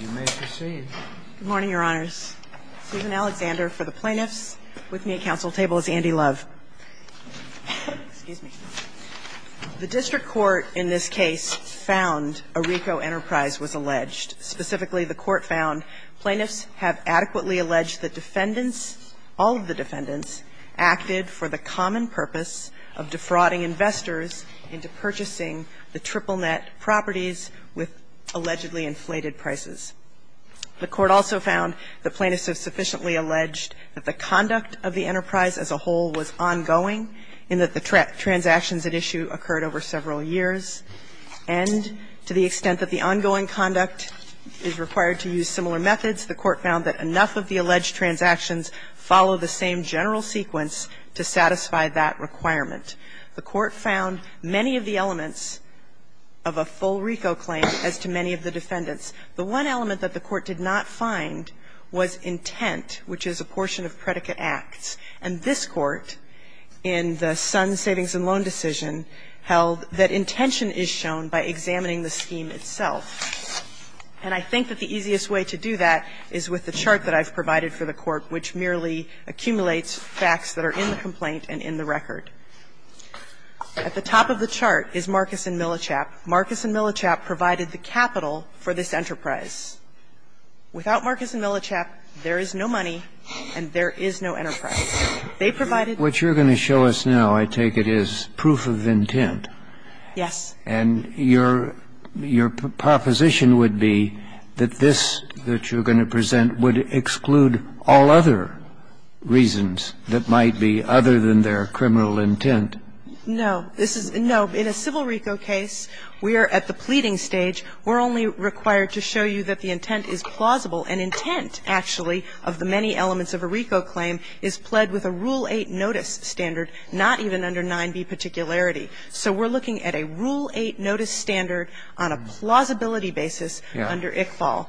You may proceed. Good morning, Your Honors. Susan Alexander for the plaintiffs. With me at counsel's table is Andy Love. Excuse me. The district court in this case found a RICO enterprise was alleged. Specifically, the court found plaintiffs have adequately alleged that defendants, all of the defendants, acted for the common purpose of defrauding investors into purchasing the triple net properties with allegedly inflated prices. The court also found the plaintiffs have sufficiently alleged that the conduct of the enterprise as a whole was ongoing, in that the transactions at issue occurred over several years. And to the extent that the ongoing conduct is required to use similar methods, the court found that enough of the alleged transactions follow the same general sequence to satisfy that requirement. The court found many of the elements of a full RICO claim as to many of the defendants. The one element that the court did not find was intent, which is a portion of predicate acts. And this court, in the Sons Savings and Loan decision, held that intention is shown by examining the scheme itself. And I think that the easiest way to do that is with the chart that I've provided for the court, which merely accumulates facts that are in the complaint and in the record. At the top of the chart is Marcus and Millichap. Marcus and Millichap provided the capital for this enterprise. Without Marcus and Millichap, there is no money and there is no enterprise. They provided the capital. Kennedy, what you're going to show us now, I take it, is proof of intent. Yes. And your proposition would be that this that you're going to present would exclude all other reasons that might be other than their criminal intent. No. This is no. In a civil RICO case, we are at the pleading stage. We're only required to show you that the intent is plausible. And intent, actually, of the many elements of a RICO claim is pled with a Rule 8 notice standard, not even under 9b particularity. So we're looking at a Rule 8 notice standard on a plausibility basis under ICFAL.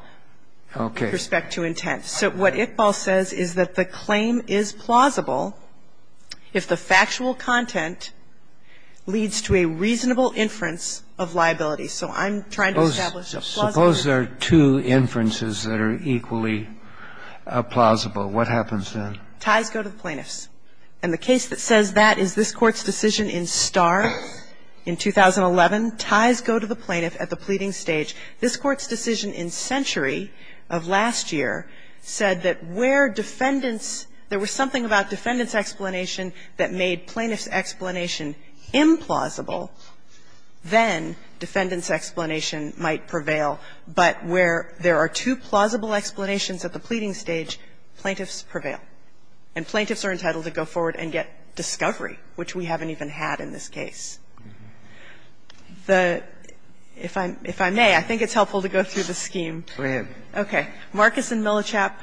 Okay. With respect to intent. So what ICFAL says is that the claim is plausible if the factual content leads to a reasonable inference of liability. So I'm trying to establish a plausible. Suppose there are two inferences that are equally plausible. What happens then? Ties go to the plaintiffs. And the case that says that is this Court's decision in Starr in 2011. Ties go to the plaintiff at the pleading stage. This Court's decision in Century of last year said that where defendants – there was something about defendants' explanation that made plaintiffs' explanation implausible, then defendants' explanation might prevail, but where there are two plausible explanations at the pleading stage, plaintiffs prevail. And plaintiffs are entitled to go forward and get discovery, which we haven't even had in this case. The – if I may, I think it's helpful to go through the scheme. Go ahead. Okay. Marcus and Millichap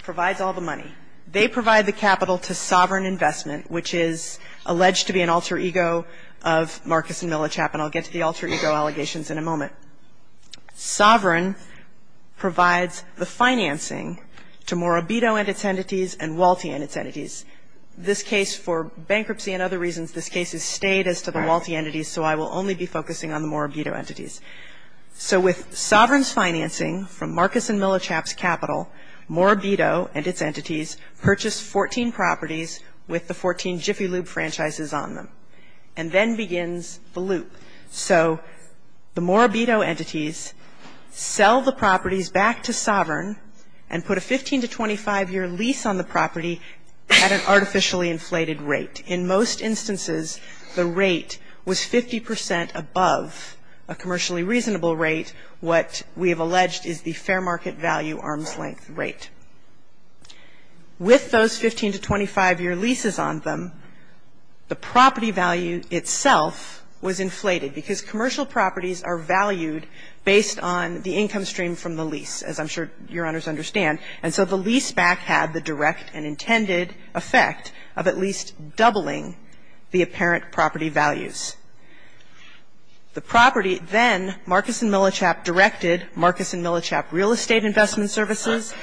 provides all the money. They provide the capital to Sovereign Investment, which is alleged to be an alter ego of Marcus and Millichap, and I'll get to the alter ego allegations in a moment. Sovereign provides the financing to Morabito and its entities and Walti and its entities. This case, for bankruptcy and other reasons, this case is stayed as to the Walti entities, so I will only be focusing on the Morabito entities. So with Sovereign's financing from Marcus and Millichap's capital, Morabito and its entities purchase 14 properties with the 14 Jiffy Lube franchises on them, and then begins the loop. So the Morabito entities sell the properties back to Sovereign and put a 15 to 25-year lease on the property at an artificially inflated rate. In most instances, the rate was 50 percent above a commercially reasonable rate, what we have alleged is the fair market value arm's length rate. With those 15 to 25-year leases on them, the property value itself was inflated because commercial properties are valued based on the income stream from the lease, as I'm sure Your Honors understand. And so the lease back had the direct and intended effect of at least doubling the apparent property values. The property then, Marcus and Millichap directed Marcus and Millichap Real Estate Investment Services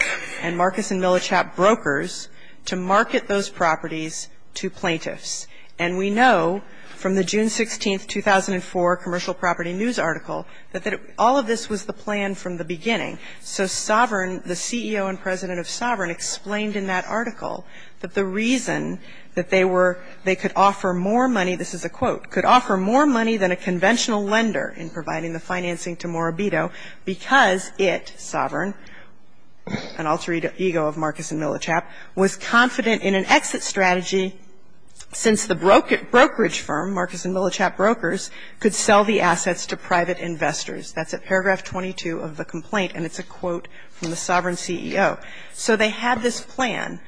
and Marcus and Millichap Brokers to market those properties to plaintiffs. And we know from the June 16, 2004 Commercial Property News article that all of this was the plan from the beginning. So Sovereign, the CEO and president of Sovereign, explained in that article that the reason that they were they could offer more money, this is a quote, could offer more money than a conventional lender in providing the financing to Morabito because it, Sovereign, an alter ego of Marcus and Millichap, was confident in an exit strategy since the brokerage firm, Marcus and Millichap Brokers, could sell the assets to private investors. That's at paragraph 22 of the complaint. And it's a quote from the Sovereign CEO. So they had this plan,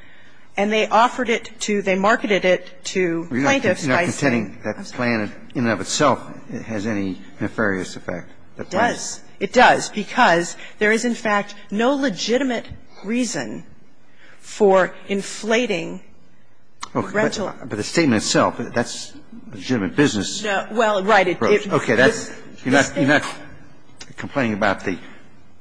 and they offered it to, they marketed it to plaintiffs by saying that plan in and of itself has any nefarious effect. It does. It does. Because there is, in fact, no legitimate reason for inflating the rental. But the statement itself, that's a legitimate business approach. Well, right. Okay. You're not complaining about the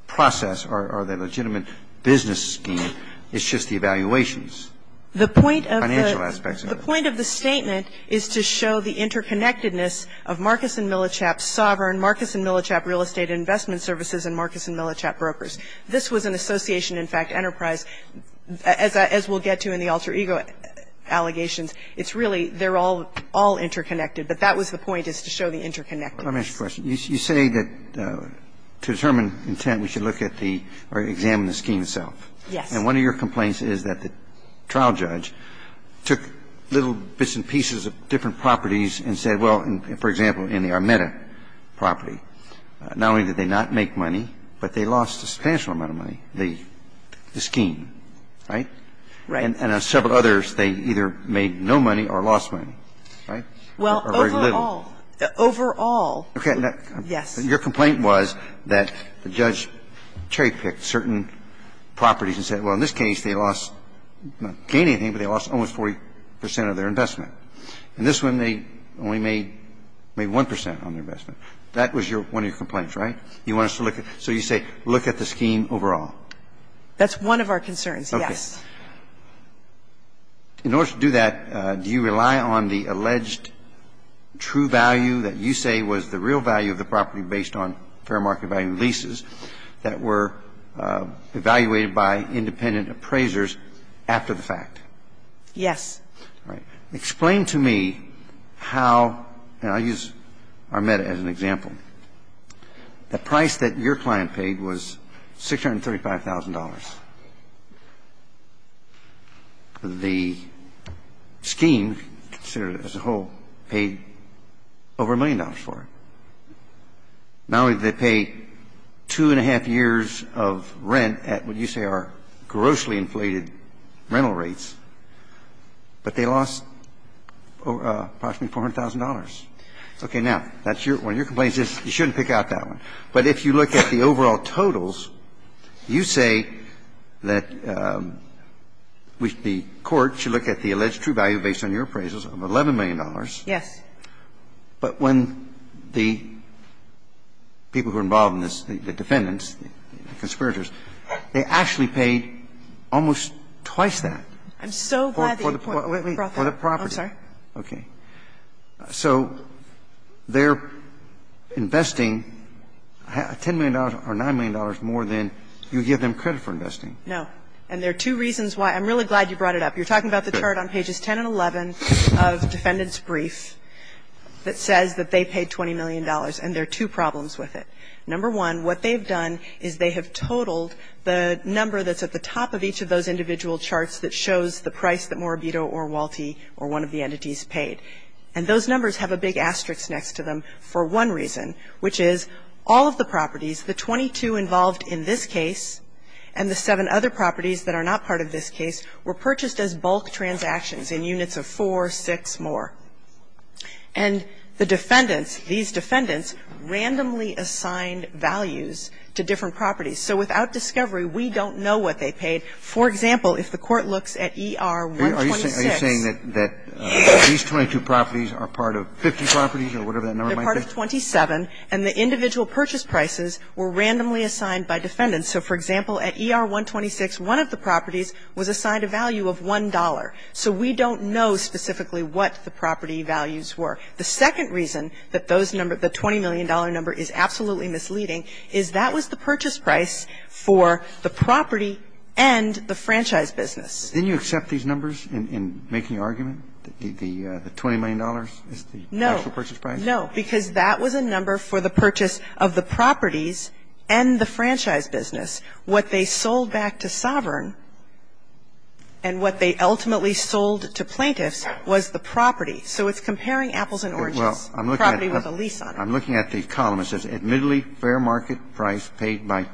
process or the legitimate business scheme. It's just the evaluations. The point of the statement is to show the interconnectedness of Marcus and Millichap Sovereign, Marcus and Millichap Real Estate Investment Services, and Marcus and Millichap Brokers. This was an association, in fact, enterprise, as we'll get to in the alter ego allegations. It's really they're all interconnected. But that was the point, is to show the interconnectedness. Let me ask you a question. You say that to determine intent, we should look at the or examine the scheme itself. Yes. And one of your complaints is that the trial judge took little bits and pieces of different properties and said, well, for example, in the Armeta property, not only did they not make money, but they lost a substantial amount of money, the scheme, right? Right. And on several others, they either made no money or lost money, right? Or very little. Well, overall. Overall. Okay. Yes. Your complaint was that the judge cherry-picked certain properties and said, well, in this case, they lost, not gained anything, but they lost almost 40 percent of their investment. In this one, they only made maybe 1 percent on their investment. That was your one of your complaints, right? You want us to look at so you say look at the scheme overall. That's one of our concerns, yes. Okay. In order to do that, do you rely on the alleged true value that you say was the real value of the property based on fair market value leases that were evaluated by independent appraisers after the fact? Yes. All right. Explain to me how, and I'll use Armeta as an example. The price that your client paid was $635,000. The scheme, as a whole, paid over a million dollars for it. Not only did they pay two and a half years of rent at what you say are grossly inflated rental rates, but they lost approximately $400,000. Okay. Now, that's your one of your complaints is you shouldn't pick out that one. But if you look at the overall totals, you say that the court should look at the alleged true value based on your appraisals of $11 million. Yes. But when the people who are involved in this, the defendants, the conspirators, they actually paid almost twice that. I'm so glad that you brought that up. For the property. I'm sorry. Okay. So they're investing $10 million or $9 million more than you give them credit for investing. No. And there are two reasons why. I'm really glad you brought it up. You're talking about the chart on pages 10 and 11 of Defendant's Brief that says that they paid $20 million, and there are two problems with it. Number one, what they've done is they have totaled the number that's at the top of each of those individual charts that shows the price that Morabito or Walti or one of the entities paid. And those numbers have a big asterisk next to them for one reason, which is all of the properties, the 22 involved in this case and the seven other properties that are not part of this case were purchased as bulk transactions in units of four, six more. And the defendants, these defendants, randomly assigned values to different properties. So without discovery, we don't know what they paid. For example, if the Court looks at ER-126. Are you saying that these 22 properties are part of 50 properties or whatever that number might be? They're part of 27, and the individual purchase prices were randomly assigned by defendants. So, for example, at ER-126, one of the properties was assigned a value of $1. So we don't know specifically what the property values were. The second reason that those numbers, the $20 million number, is absolutely misleading is that was the purchase price for the property and the franchise business. Didn't you accept these numbers in making argument, the $20 million is the actual purchase price? No. No. Because that was a number for the purchase of the properties and the franchise business. What they sold back to Sovereign and what they ultimately sold to plaintiffs was the property. So it's comparing apples and oranges, property with a lease on it. I'm looking at the column that says admittedly fair market price paid by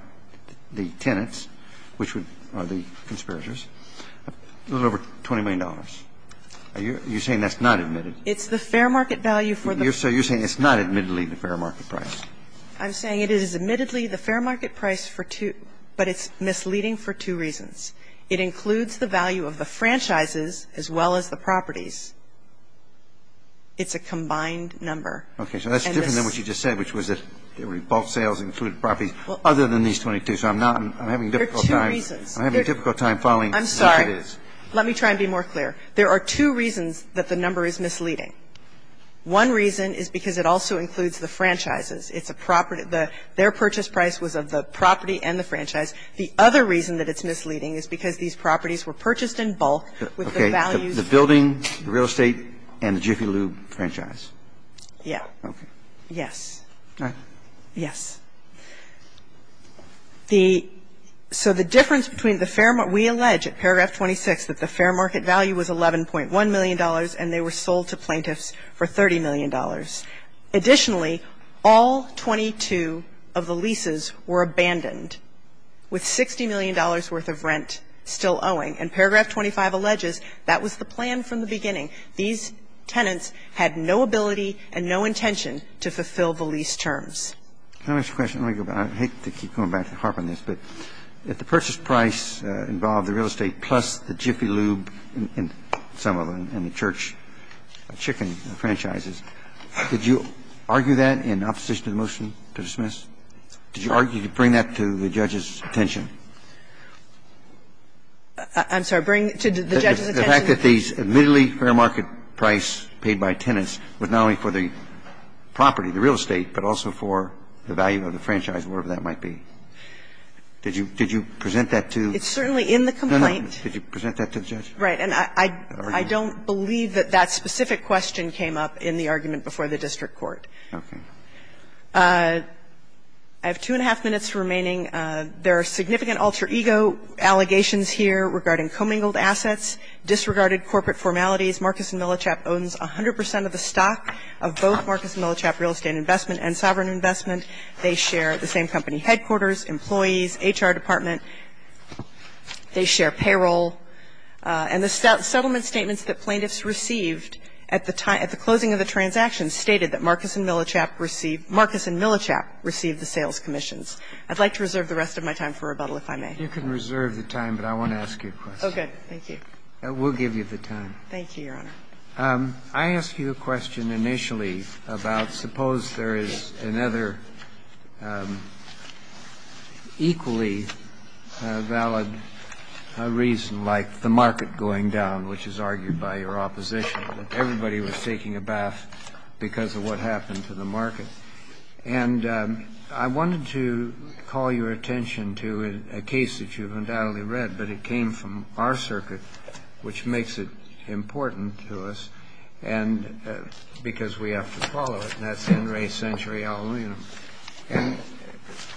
the tenants, which are the conspirators, a little over $20 million. Are you saying that's not admitted? It's the fair market value for the property. So you're saying it's not admittedly the fair market price. I'm saying it is admittedly the fair market price for two, but it's misleading for two reasons. It includes the value of the franchises as well as the properties. It's a combined number. Okay. So that's different than what you just said, which was that there would be bulk sales included properties other than these 22. So I'm not going to have a difficult time. There are two reasons. I'm having a difficult time following. I'm sorry. Let me try and be more clear. There are two reasons that the number is misleading. One reason is because it also includes the franchises. It's a property. Their purchase price was of the property and the franchise. The other reason that it's misleading is because these properties were purchased in bulk with the values. Okay. The building, the real estate, and the Jiffy Lube franchise. Yeah. Okay. Yes. All right. Yes. The so the difference between the fair we allege at paragraph 26 that the fair market value was $11.1 million and they were sold to plaintiffs for $30 million. Additionally, all 22 of the leases were abandoned with $60 million worth of rent still owing. And paragraph 25 alleges that was the plan from the beginning. These tenants had no ability and no intention to fulfill the lease terms. Let me ask you a question. Let me go back. I hate to keep going back to harp on this, but if the purchase price involved the real estate plus the Jiffy Lube and some of them and the church chicken franchises, did you argue that in opposition to the motion to dismiss? Did you argue to bring that to the judge's attention? I'm sorry. Bring to the judge's attention? The fact that these admittedly fair market price paid by tenants was not only for the property, the real estate, but also for the value of the franchise, whatever that might be. Did you present that to? It's certainly in the complaint. Did you present that to the judge? Right. And I don't believe that that specific question came up in the argument before the district court. Okay. I have two and a half minutes remaining. There are significant alter ego allegations here regarding commingled assets. Disregarded corporate formalities. Marcus & Millichap owns 100 percent of the stock of both Marcus & Millichap Real Estate Investment and Sovereign Investment. They share the same company headquarters, employees, HR department. They share payroll. And the settlement statements that plaintiffs received at the closing of the transaction stated that Marcus & Millichap received the sales commissions. I'd like to reserve the rest of my time for rebuttal, if I may. You can reserve the time, but I want to ask you a question. Okay. Thank you. We'll give you the time. Thank you, Your Honor. I asked you a question initially about suppose there is another equally valid reason like the market going down, which is argued by your opposition, that everybody was taking a bath because of what happened to the market. And I wanted to call your attention to a case that you've undoubtedly read, but it came from our circuit, which makes it important to us because we have to follow it. And that's Henry Century, Ill.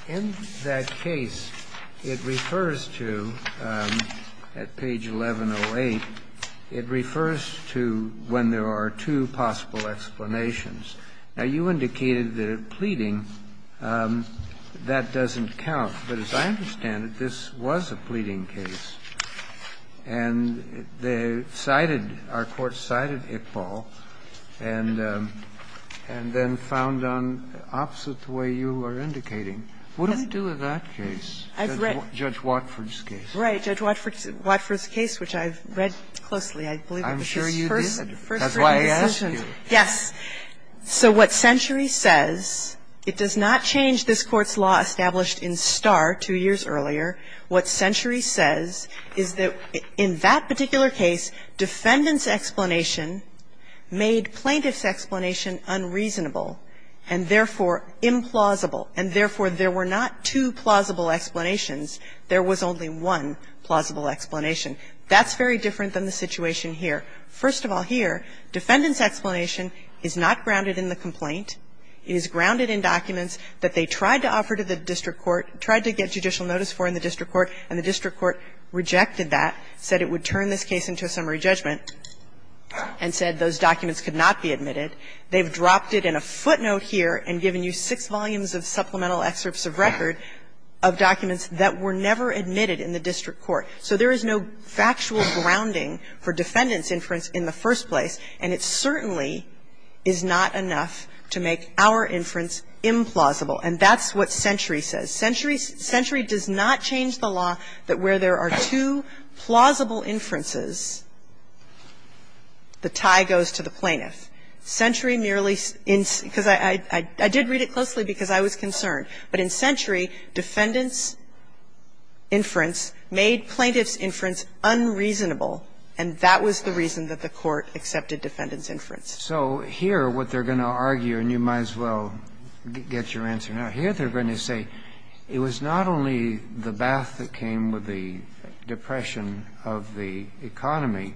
In that case, it refers to, at page 1108, it refers to when there are two possible explanations. Now, you indicated that pleading, that doesn't count. But as I understand it, this was a pleading case. And they cited, our court cited Iqbal, and then found on opposite the way you are indicating. What do we do with that case? Judge Watford's case. Right. Judge Watford's case, which I've read closely. I believe it was his first reading. I'm sure you did. That's why I asked you. Yes. So what Century says, it does not change this Court's law established in Starr two years earlier. What Century says is that in that particular case, defendant's explanation made plaintiff's explanation unreasonable and, therefore, implausible. And, therefore, there were not two plausible explanations. There was only one plausible explanation. That's very different than the situation here. First of all here, defendant's explanation is not grounded in the complaint. It is grounded in documents that they tried to offer to the district court, tried to get judicial notice for in the district court, and the district court rejected that, said it would turn this case into a summary judgment, and said those documents could not be admitted. They've dropped it in a footnote here and given you six volumes of supplemental excerpts of record of documents that were never admitted in the district court. So there is no factual grounding for defendant's inference in the first place, and it certainly is not enough to make our inference implausible. And that's what Century says. Century does not change the law that where there are two plausible inferences, the tie goes to the plaintiff. Century merely – because I did read it closely because I was concerned. But in Century, defendant's inference made plaintiff's inference unreasonable, and that was the reason that the court accepted defendant's inference. So here, what they're going to argue, and you might as well get your answer now. Here they're going to say it was not only the bath that came with the depression of the economy,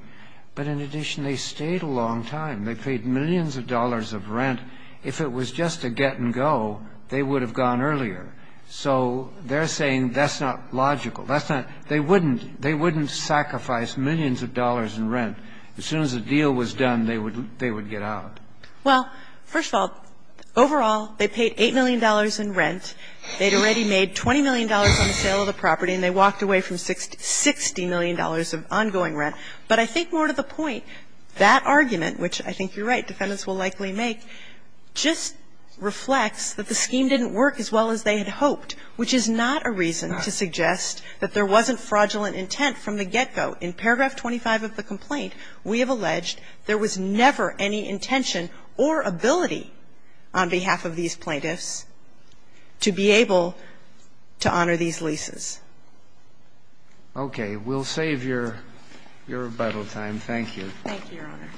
but in addition they stayed a long time. They paid millions of dollars of rent. And if it was just a get and go, they would have gone earlier. So they're saying that's not logical. That's not – they wouldn't – they wouldn't sacrifice millions of dollars in rent. As soon as a deal was done, they would get out. Well, first of all, overall, they paid $8 million in rent. They'd already made $20 million on the sale of the property, and they walked away from $60 million of ongoing rent. But I think more to the point, that argument, which I think you're right, defendants will likely make, just reflects that the scheme didn't work as well as they had hoped, which is not a reason to suggest that there wasn't fraudulent intent from the get-go. In paragraph 25 of the complaint, we have alleged there was never any intention or ability on behalf of these plaintiffs to be able to honor these leases. Okay. We'll save your rebuttal time. Thank you. Thank you, Your Honor.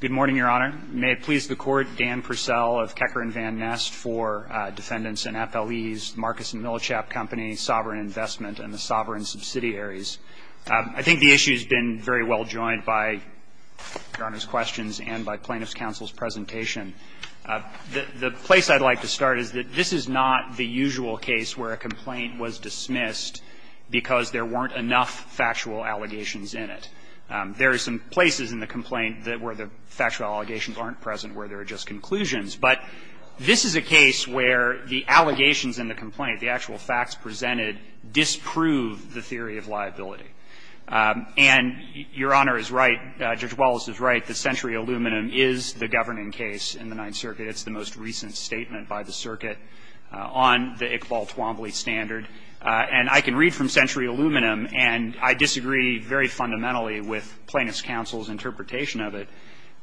Good morning, Your Honor. May it please the Court, Dan Purcell of Kecker and Van Nest for Defendants and FLEs, Marcus and Millichap Company, Sovereign Investment, and the Sovereign Subsidiaries. I think the issue has been very well joined by Your Honor's questions and by Plaintiffs' counsel's presentation. The place I'd like to start is that this is not the usual case where a complaint was dismissed because there weren't enough factual allegations in it. There are some places in the complaint where the factual allegations aren't present, where there are just conclusions. But this is a case where the allegations in the complaint, the actual facts presented, disprove the theory of liability. And Your Honor is right, Judge Wallace is right, the Century Aluminum is the governing case in the Ninth Circuit. It's the most recent statement by the circuit on the Iqbal-Twombly standard. And I can read from Century Aluminum, and I disagree very fundamentally with Plaintiffs' counsel's interpretation of it.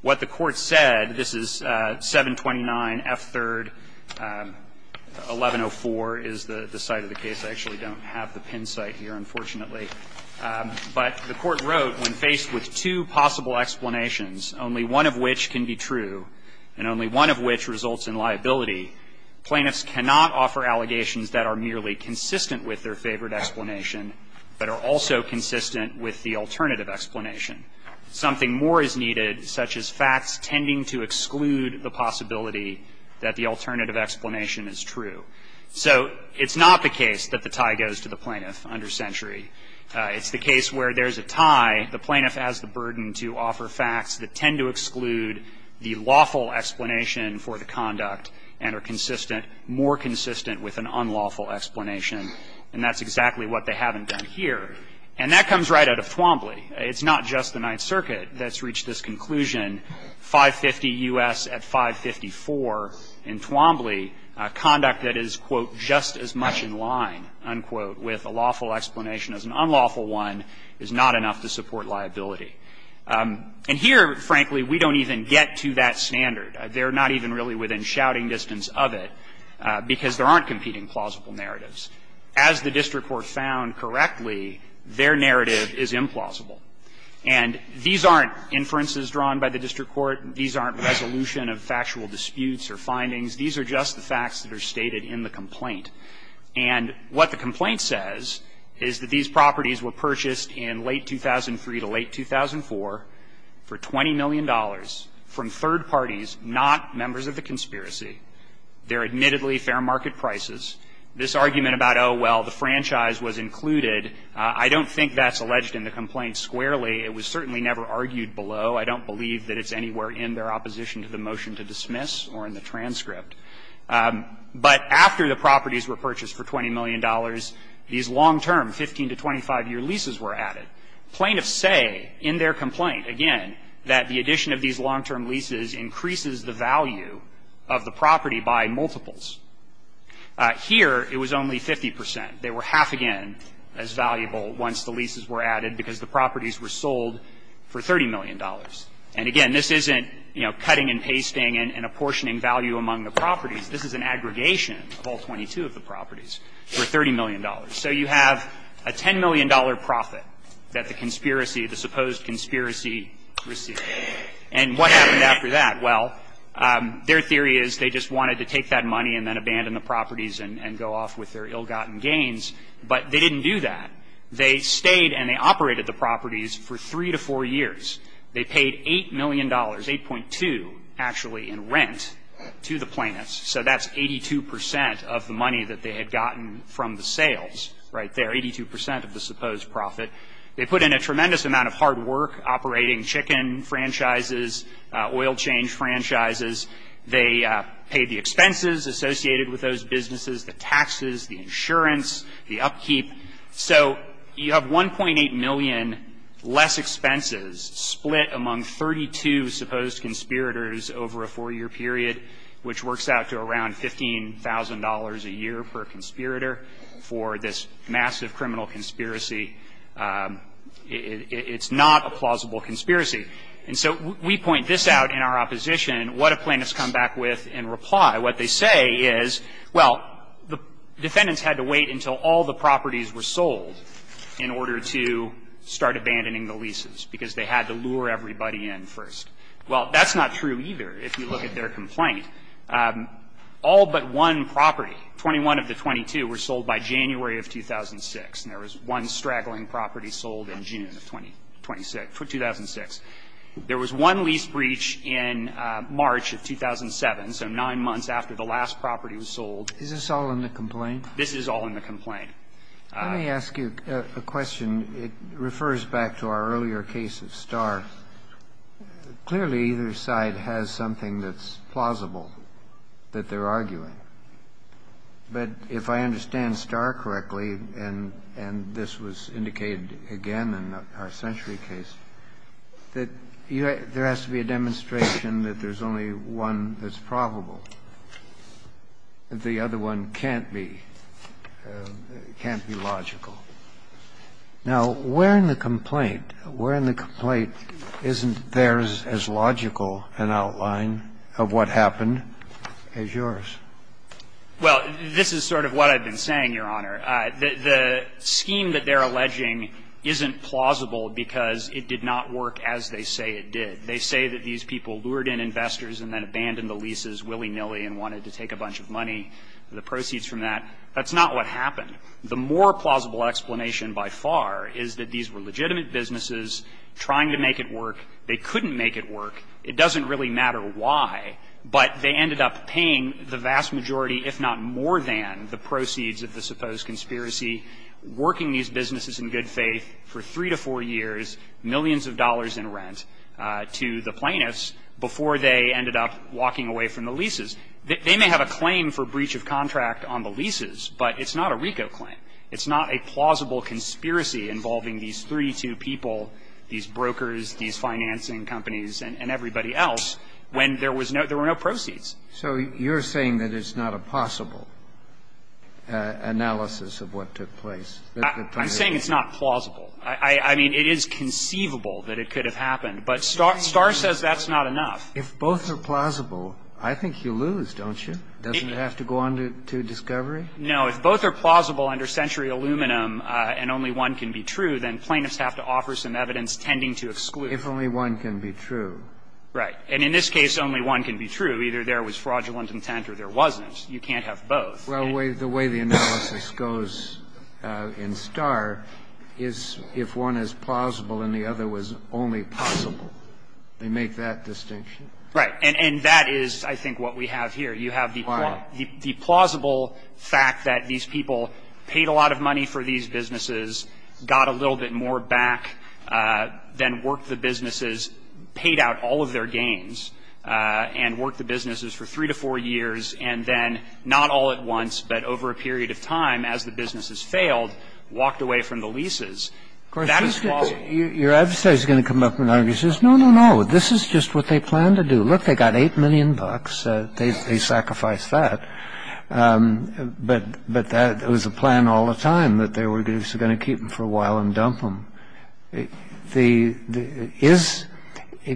What the Court said, this is 729F3, 1104 is the site of the case. I actually don't have the pin site here, unfortunately. But the Court wrote, when faced with two possible explanations, only one of which can be true, and only one of which results in liability, plaintiffs cannot offer allegations that are merely consistent with their favored explanation, but are also consistent with the alternative explanation. Something more is needed, such as facts tending to exclude the possibility that the alternative explanation is true. So it's not the case that the tie goes to the plaintiff under Century. It's the case where there's a tie. The plaintiff has the burden to offer facts that tend to exclude the lawful explanation for the conduct and are consistent, more consistent with an unlawful explanation. And that's exactly what they haven't done here. And that comes right out of Twombly. It's not just the Ninth Circuit that's reached this conclusion. 550 U.S. at 554 in Twombly, conduct that is, quote, just as much in line, unquote, with a lawful explanation as an unlawful one, is not enough to support liability. And here, frankly, we don't even get to that standard. They're not even really within shouting distance of it, because there aren't competing plausible narratives. As the district court found correctly, their narrative is implausible. And these aren't inferences drawn by the district court. These aren't resolution of factual disputes or findings. These are just the facts that are stated in the complaint. And what the complaint says is that these properties were purchased in late 2003 to late 2004 for $20 million from third parties, not members of the conspiracy. They're admittedly fair market prices. This argument about, oh, well, the franchise was included, I don't think that's alleged in the complaint squarely. It was certainly never argued below. I don't believe that it's anywhere in their opposition to the motion to dismiss or in the transcript. But after the properties were purchased for $20 million, these long-term, 15- to 25-year leases were added. Plaintiffs say in their complaint, again, that the addition of these long-term leases increases the value of the property by multiples. Here, it was only 50 percent. They were half again as valuable once the leases were added, because the properties were sold for $30 million. And again, this isn't, you know, cutting and pasting and apportioning value among the properties, this is an aggregation of all 22 of the properties for $30 million. So you have a $10 million profit that the conspiracy, the supposed conspiracy received. And what happened after that? Well, their theory is they just wanted to take that money and then abandon the properties and go off with their ill-gotten gains, but they didn't do that. They stayed and they operated the properties for three to four years. They paid $8 million, $8.2 million, actually, in rent to the plaintiffs. So that's 82 percent of the money that they had gotten from the sales right there, 82 percent of the supposed profit. They put in a tremendous amount of hard work operating chicken franchises, oil change franchises. They paid the expenses associated with those businesses, the taxes, the insurance, the upkeep. So you have $1.8 million less expenses split among 32 supposed conspirators over a four-year period, which works out to around $15,000 a year per conspirator for this massive criminal conspiracy. It's not a plausible conspiracy. And so we point this out in our opposition. What do plaintiffs come back with in reply? What they say is, well, the defendants had to wait until all the properties were sold in order to start abandoning the leases, because they had to lure everybody in first. Well, that's not true either, if you look at their complaint. All but one property, 21 of the 22, were sold by January of 2006, and there was one straggling property sold in June of 2006. There was one lease breach in March of 2007, so nine months after the last property was sold. Kennedy, is this all in the complaint? This is all in the complaint. Let me ask you a question. It refers back to our earlier case of Starr. Clearly, either side has something that's plausible that they're arguing. But if I understand Starr correctly, and this was indicated again in our Century II case, that there has to be a demonstration that there's only one that's probable. The other one can't be. It can't be logical. Now, where in the complaint, where in the complaint isn't theirs as logical an outline of what happened as yours? Well, this is sort of what I've been saying, Your Honor. The scheme that they're alleging isn't plausible because it did not work as they say it did. They say that these people lured in investors and then abandoned the leases willy-nilly and wanted to take a bunch of money, the proceeds from that. That's not what happened. The more plausible explanation by far is that these were legitimate businesses trying to make it work. They couldn't make it work. It doesn't really matter why, but they ended up paying the vast majority, if not more than, the proceeds of the supposed conspiracy, working these businesses in good faith for three to four years, millions of dollars in rent, to the plaintiffs before they ended up walking away from the leases. They may have a claim for breach of contract on the leases, but it's not a RICO claim. It's not a plausible conspiracy involving these 32 people, these brokers, these financing companies, and everybody else, when there was no – there were no proceeds. So you're saying that it's not a possible analysis of what took place? I'm saying it's not plausible. I mean, it is conceivable that it could have happened, but Starr says that's not enough. If both are plausible, I think you lose, don't you? Doesn't it have to go on to discovery? No. If both are plausible under Century Aluminum and only one can be true, then plaintiffs have to offer some evidence tending to exclude. If only one can be true. Right. And in this case, only one can be true. Either there was fraudulent intent or there wasn't. You can't have both. Well, the way the analysis goes in Starr is if one is plausible and the other was only possible. They make that distinction. Right. And that is, I think, what we have here. You have the plausible fact that these people paid a lot of money for these businesses, got a little bit more back, then worked the businesses, paid out all of their gains, and worked the businesses for three to four years, and then not all at once, but over a period of time, as the businesses failed, walked away from the leases. That is plausible. Your adversary is going to come up and argue, says, no, no, no, this is just what they planned to do. Look, they got 8 million bucks. They sacrificed that. But that was the plan all the time, that they were just going to keep them for a while and dump them.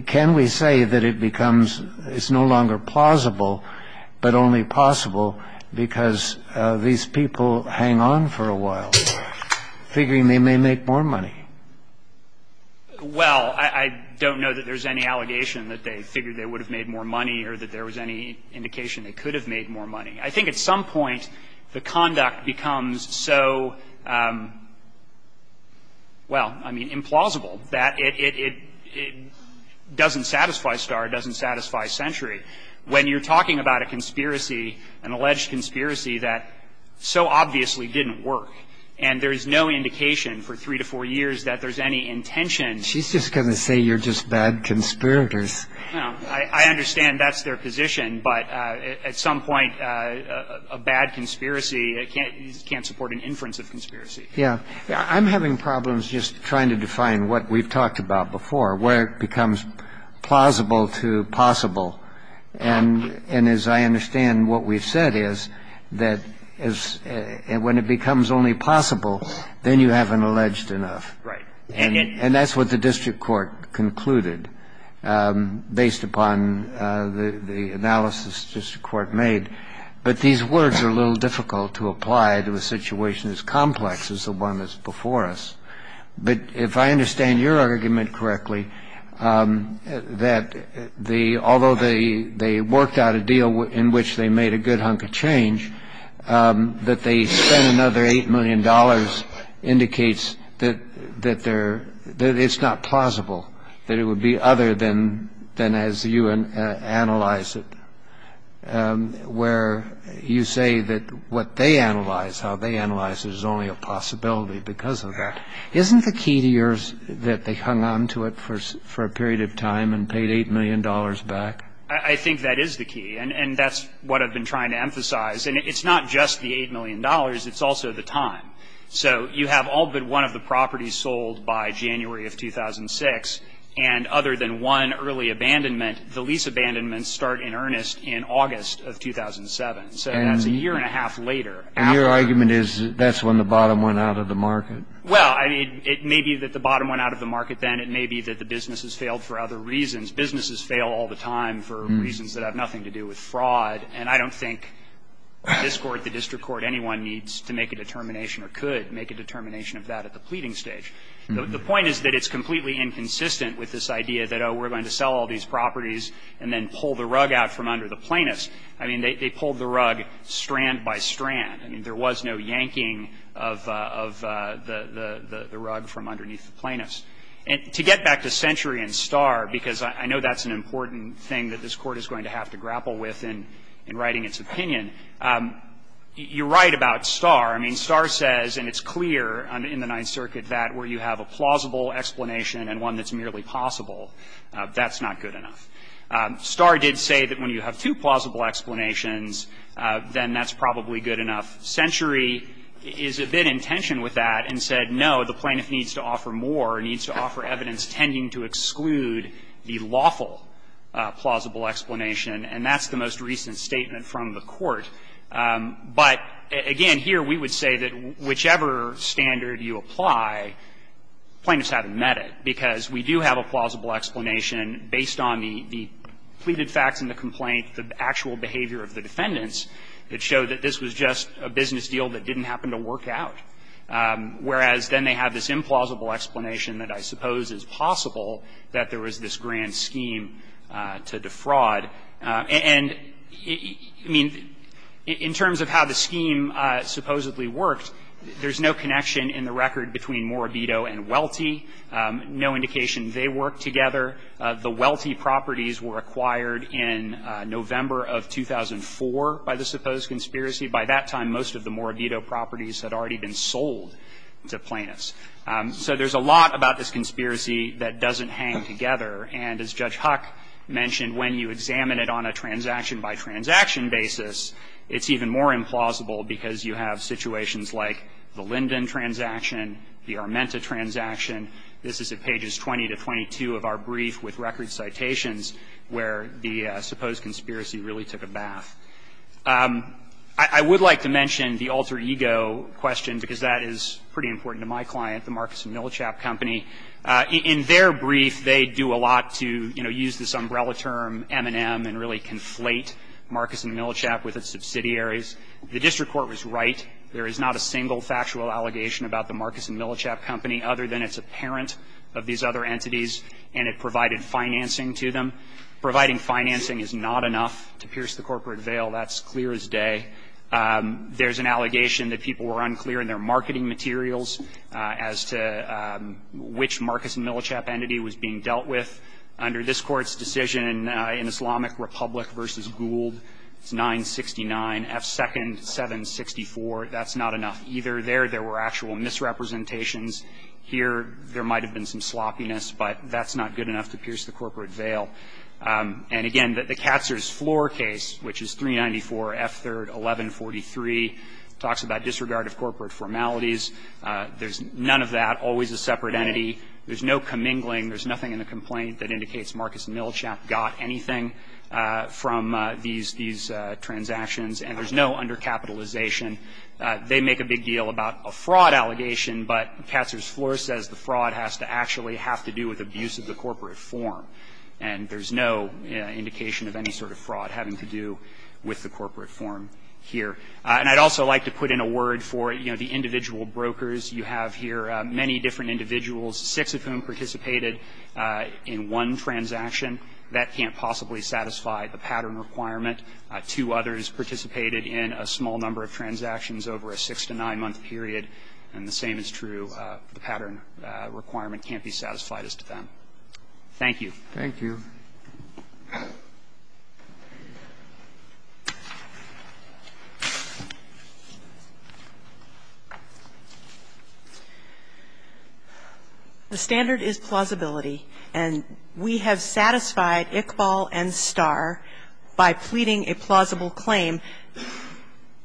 Can we say that it becomes, it's no longer plausible, but only possible because these people hang on for a while, figuring they may make more money? Well, I don't know that there's any allegation that they figured they would have made more money or that there was any indication they could have made more money. I think at some point, the conduct becomes so, well, I mean, implausible, that it doesn't satisfy Starr. It doesn't satisfy Century. When you're talking about a conspiracy, an alleged conspiracy that so obviously didn't work, and there's no indication for three to four years that there's any intention She's just going to say you're just bad conspirators. I understand that's their position, but at some point, a bad conspiracy can't support an inference of conspiracy. Yeah. I'm having problems just trying to define what we've talked about before, where it becomes plausible to possible. And as I understand, what we've said is that when it becomes only possible, then you have an alleged enough. Right. And that's what the district court concluded. Based upon the analysis the district court made. But these words are a little difficult to apply to a situation as complex as the one that's before us. But if I understand your argument correctly, that although they worked out a deal in which they made a good hunk of change, that they spent another $8 million indicates that it's not plausible, that it would be other than as you analyze it, where you say that what they analyze, how they analyze, is only a possibility because of that. Isn't the key to yours that they hung on to it for a period of time and paid $8 million back? I think that is the key. And that's what I've been trying to emphasize. And it's not just the $8 million. It's also the time. So you have all but one of the properties sold by January of 2006. And other than one early abandonment, the lease abandonments start in earnest in August of 2007. So that's a year and a half later. And your argument is that's when the bottom went out of the market? Well, I mean, it may be that the bottom went out of the market then. It may be that the businesses failed for other reasons. Businesses fail all the time for reasons that have nothing to do with fraud. And I don't think this Court, the district court, anyone needs to make a determination or could make a determination of that at the pleading stage. The point is that it's completely inconsistent with this idea that, oh, we're going to sell all these properties and then pull the rug out from under the plaintiffs. I mean, they pulled the rug strand by strand. I mean, there was no yanking of the rug from underneath the plaintiffs. And to get back to Century and Starr, because I know that's an important thing that this Court is going to have to grapple with in writing its opinion, you're right about Starr. I mean, Starr says, and it's clear in the Ninth Circuit, that where you have a plausible explanation and one that's merely possible, that's not good enough. Starr did say that when you have two plausible explanations, then that's probably good enough. Century is a bit in tension with that and said, no, the plaintiff needs to offer more, needs to offer evidence tending to exclude the lawful plausible explanation. And that's the most recent statement from the Court. But, again, here we would say that whichever standard you apply, plaintiffs haven't met it, because we do have a plausible explanation based on the pleaded facts in the complaint, the actual behavior of the defendants that show that this was just a business deal that didn't happen to work out. Whereas, then they have this implausible explanation that I suppose is possible that there was this grand scheme to defraud. And, I mean, in terms of how the scheme supposedly worked, there's no connection in the record between Morabito and Welty, no indication they worked together. The Welty properties were acquired in November of 2004 by the supposed conspiracy. By that time, most of the Morabito properties had already been sold to plaintiffs. So there's a lot about this conspiracy that doesn't hang together. And as Judge Huck mentioned, when you examine it on a transaction-by-transaction basis, it's even more implausible because you have situations like the Linden transaction, the Armenta transaction. This is at pages 20 to 22 of our brief with record citations where the supposed conspiracy really took a bath. I would like to mention the alter ego question, because that is pretty important to my client, the Marcus & Millichap Company. In their brief, they do a lot to, you know, use this umbrella term M&M and really conflate Marcus & Millichap with its subsidiaries. The district court was right. There is not a single factual allegation about the Marcus & Millichap Company other than it's a parent of these other entities and it provided financing to them. Providing financing is not enough to pierce the corporate veil. That's clear as day. There's an allegation that people were unclear in their marketing materials as to which Marcus & Millichap entity was being dealt with under this Court's decision in Islamic Republic v. Gould. It's 969. F second, 764. That's not enough either. There, there were actual misrepresentations. Here, there might have been some sloppiness, but that's not good enough to pierce the corporate veil. And again, the Katzer's Floor case, which is 394, F third, 1143, talks about disregard of corporate formalities. There's none of that, always a separate entity. There's no commingling. There's nothing in the complaint that indicates Marcus & Millichap got anything from these, these transactions and there's no undercapitalization. They make a big deal about a fraud allegation, but Katzer's Floor says the fraud has to actually have to do with abuse of the corporate form. And there's no indication of any sort of fraud having to do with the corporate form here. And I'd also like to put in a word for, you know, the individual brokers you have here, many different individuals, six of whom participated in one transaction. That can't possibly satisfy the pattern requirement. Two others participated in a small number of transactions over a six to nine month period, and the same is true, the pattern requirement can't be satisfied as to them. Thank you. Thank you. The standard is plausibility. And we have satisfied Iqbal and Starr by pleading a plausible claim.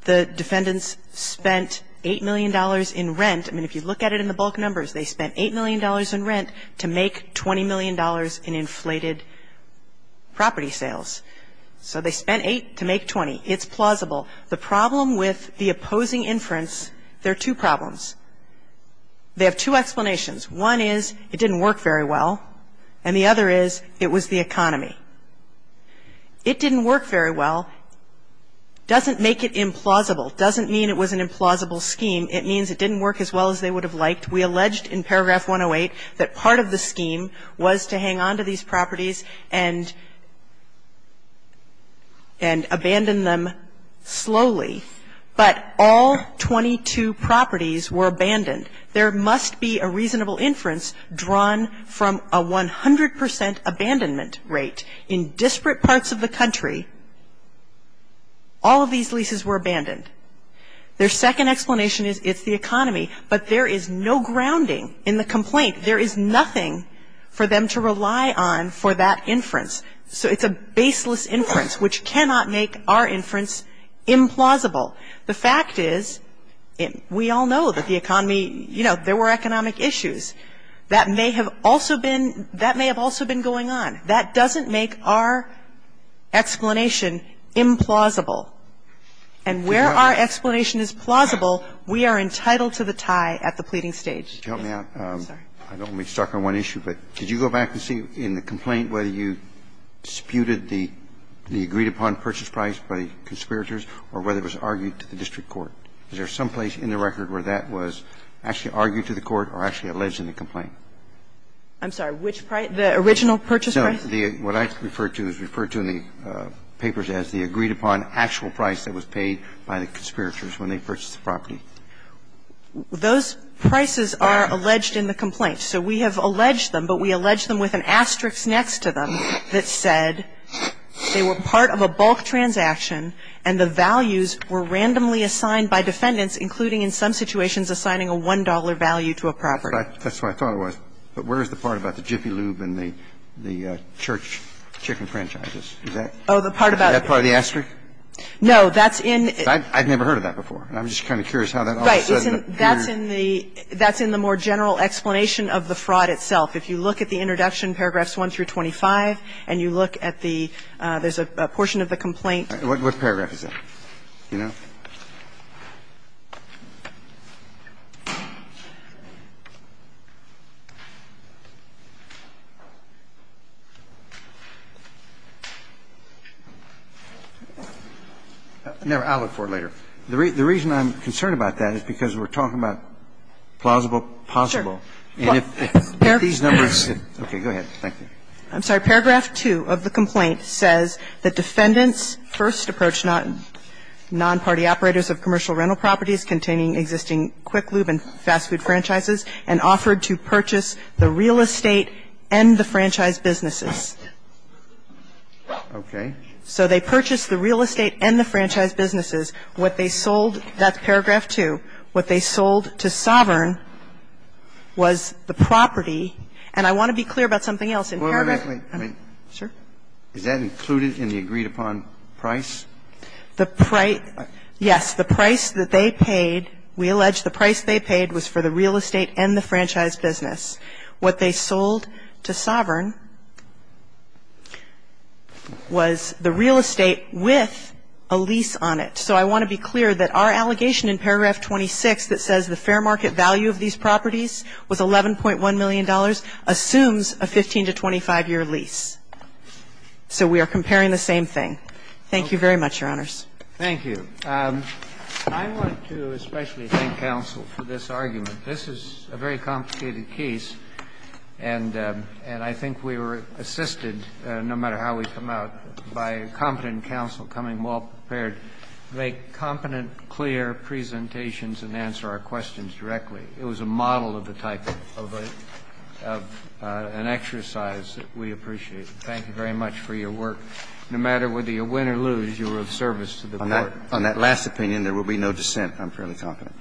The defendants spent $8 million in rent. I mean, if you look at it in the bulk numbers, they spent $8 million in rent to make $20 million in inflated property sales. So they spent 8 to make 20. It's plausible. The problem with the opposing inference, there are two problems. They have two explanations. One is it didn't work very well, and the other is it was the economy. It didn't work very well doesn't make it implausible. It doesn't mean it was an implausible scheme. It means it didn't work as well as they would have liked. We alleged in paragraph 108 that part of the scheme was to hang on to these properties and abandon them slowly, but all 22 properties were abandoned. There must be a reasonable inference drawn from a 100% abandonment rate. In disparate parts of the country, all of these leases were abandoned. Their second explanation is it's the economy, but there is no grounding in the complaint. There is nothing for them to rely on for that inference. So it's a baseless inference, which cannot make our inference implausible. The fact is, we all know that the economy, you know, there were economic issues. That may have also been going on. That doesn't make our explanation implausible. And where our explanation is plausible, we are entitled to the tie at the pleading stage. Yes, I'm sorry. Roberts, I don't want to be stuck on one issue, but did you go back and see in the complaint whether you disputed the agreed-upon purchase price by the conspirators or whether it was argued to the district court? Is there someplace in the record where that was actually argued to the court or actually alleged in the complaint? I'm sorry, which price, the original purchase price? No, what I refer to is referred to in the papers as the agreed-upon actual price that was paid by the conspirators when they purchased the property. Those prices are alleged in the complaint. So we have alleged them, but we allege them with an asterisk next to them that said they were part of a bulk transaction and the values were randomly assigned by defendants, including in some situations assigning a $1 value to a property. That's what I thought it was. But where is the part about the Jiffy Lube and the church chicken franchises? Is that part of the asterisk? No, that's in the more general explanation of the fraud itself. If you look at the introduction, paragraphs 1 through 25, and you look at the – there's a portion of the complaint. What paragraph is that? Do you know? No, I'll look for it later. The reason I'm concerned about that is because we're talking about plausible, possible. And if these numbers – okay, go ahead. Thank you. I'm sorry. Paragraph 2 of the complaint says that defendants first approached non-party operators of commercial rental properties containing existing Quick Lube and fast food franchises and offered to purchase the real estate and the franchise businesses. Okay. So they purchased the real estate and the franchise businesses. What they sold – that's paragraph 2. What they sold to Sovereign was the property. And I want to be clear about something else. In paragraph – Wait, wait, wait. Sure. Is that included in the agreed-upon price? The price – yes. The price that they paid, we allege the price they paid was for the real estate and the franchise business. What they sold to Sovereign was the real estate with a lease on it. So I want to be clear that our allegation in paragraph 26 that says the fair market value of these properties with $11.1 million assumes a 15- to 25-year lease. So we are comparing the same thing. Thank you very much, Your Honors. Thank you. I want to especially thank counsel for this argument. This is a very complicated case, and I think we were assisted, no matter how we come out, by competent counsel coming well-prepared to make competent, clear presentations and answer our questions directly. It was a model of the type of an exercise that we appreciate. Thank you very much for your work. No matter whether you win or lose, you were of service to the Court. On that last opinion, there will be no dissent, I'm fairly confident.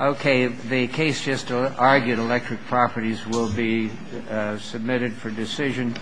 Okay. The case just argued electric properties will be submitted for decision.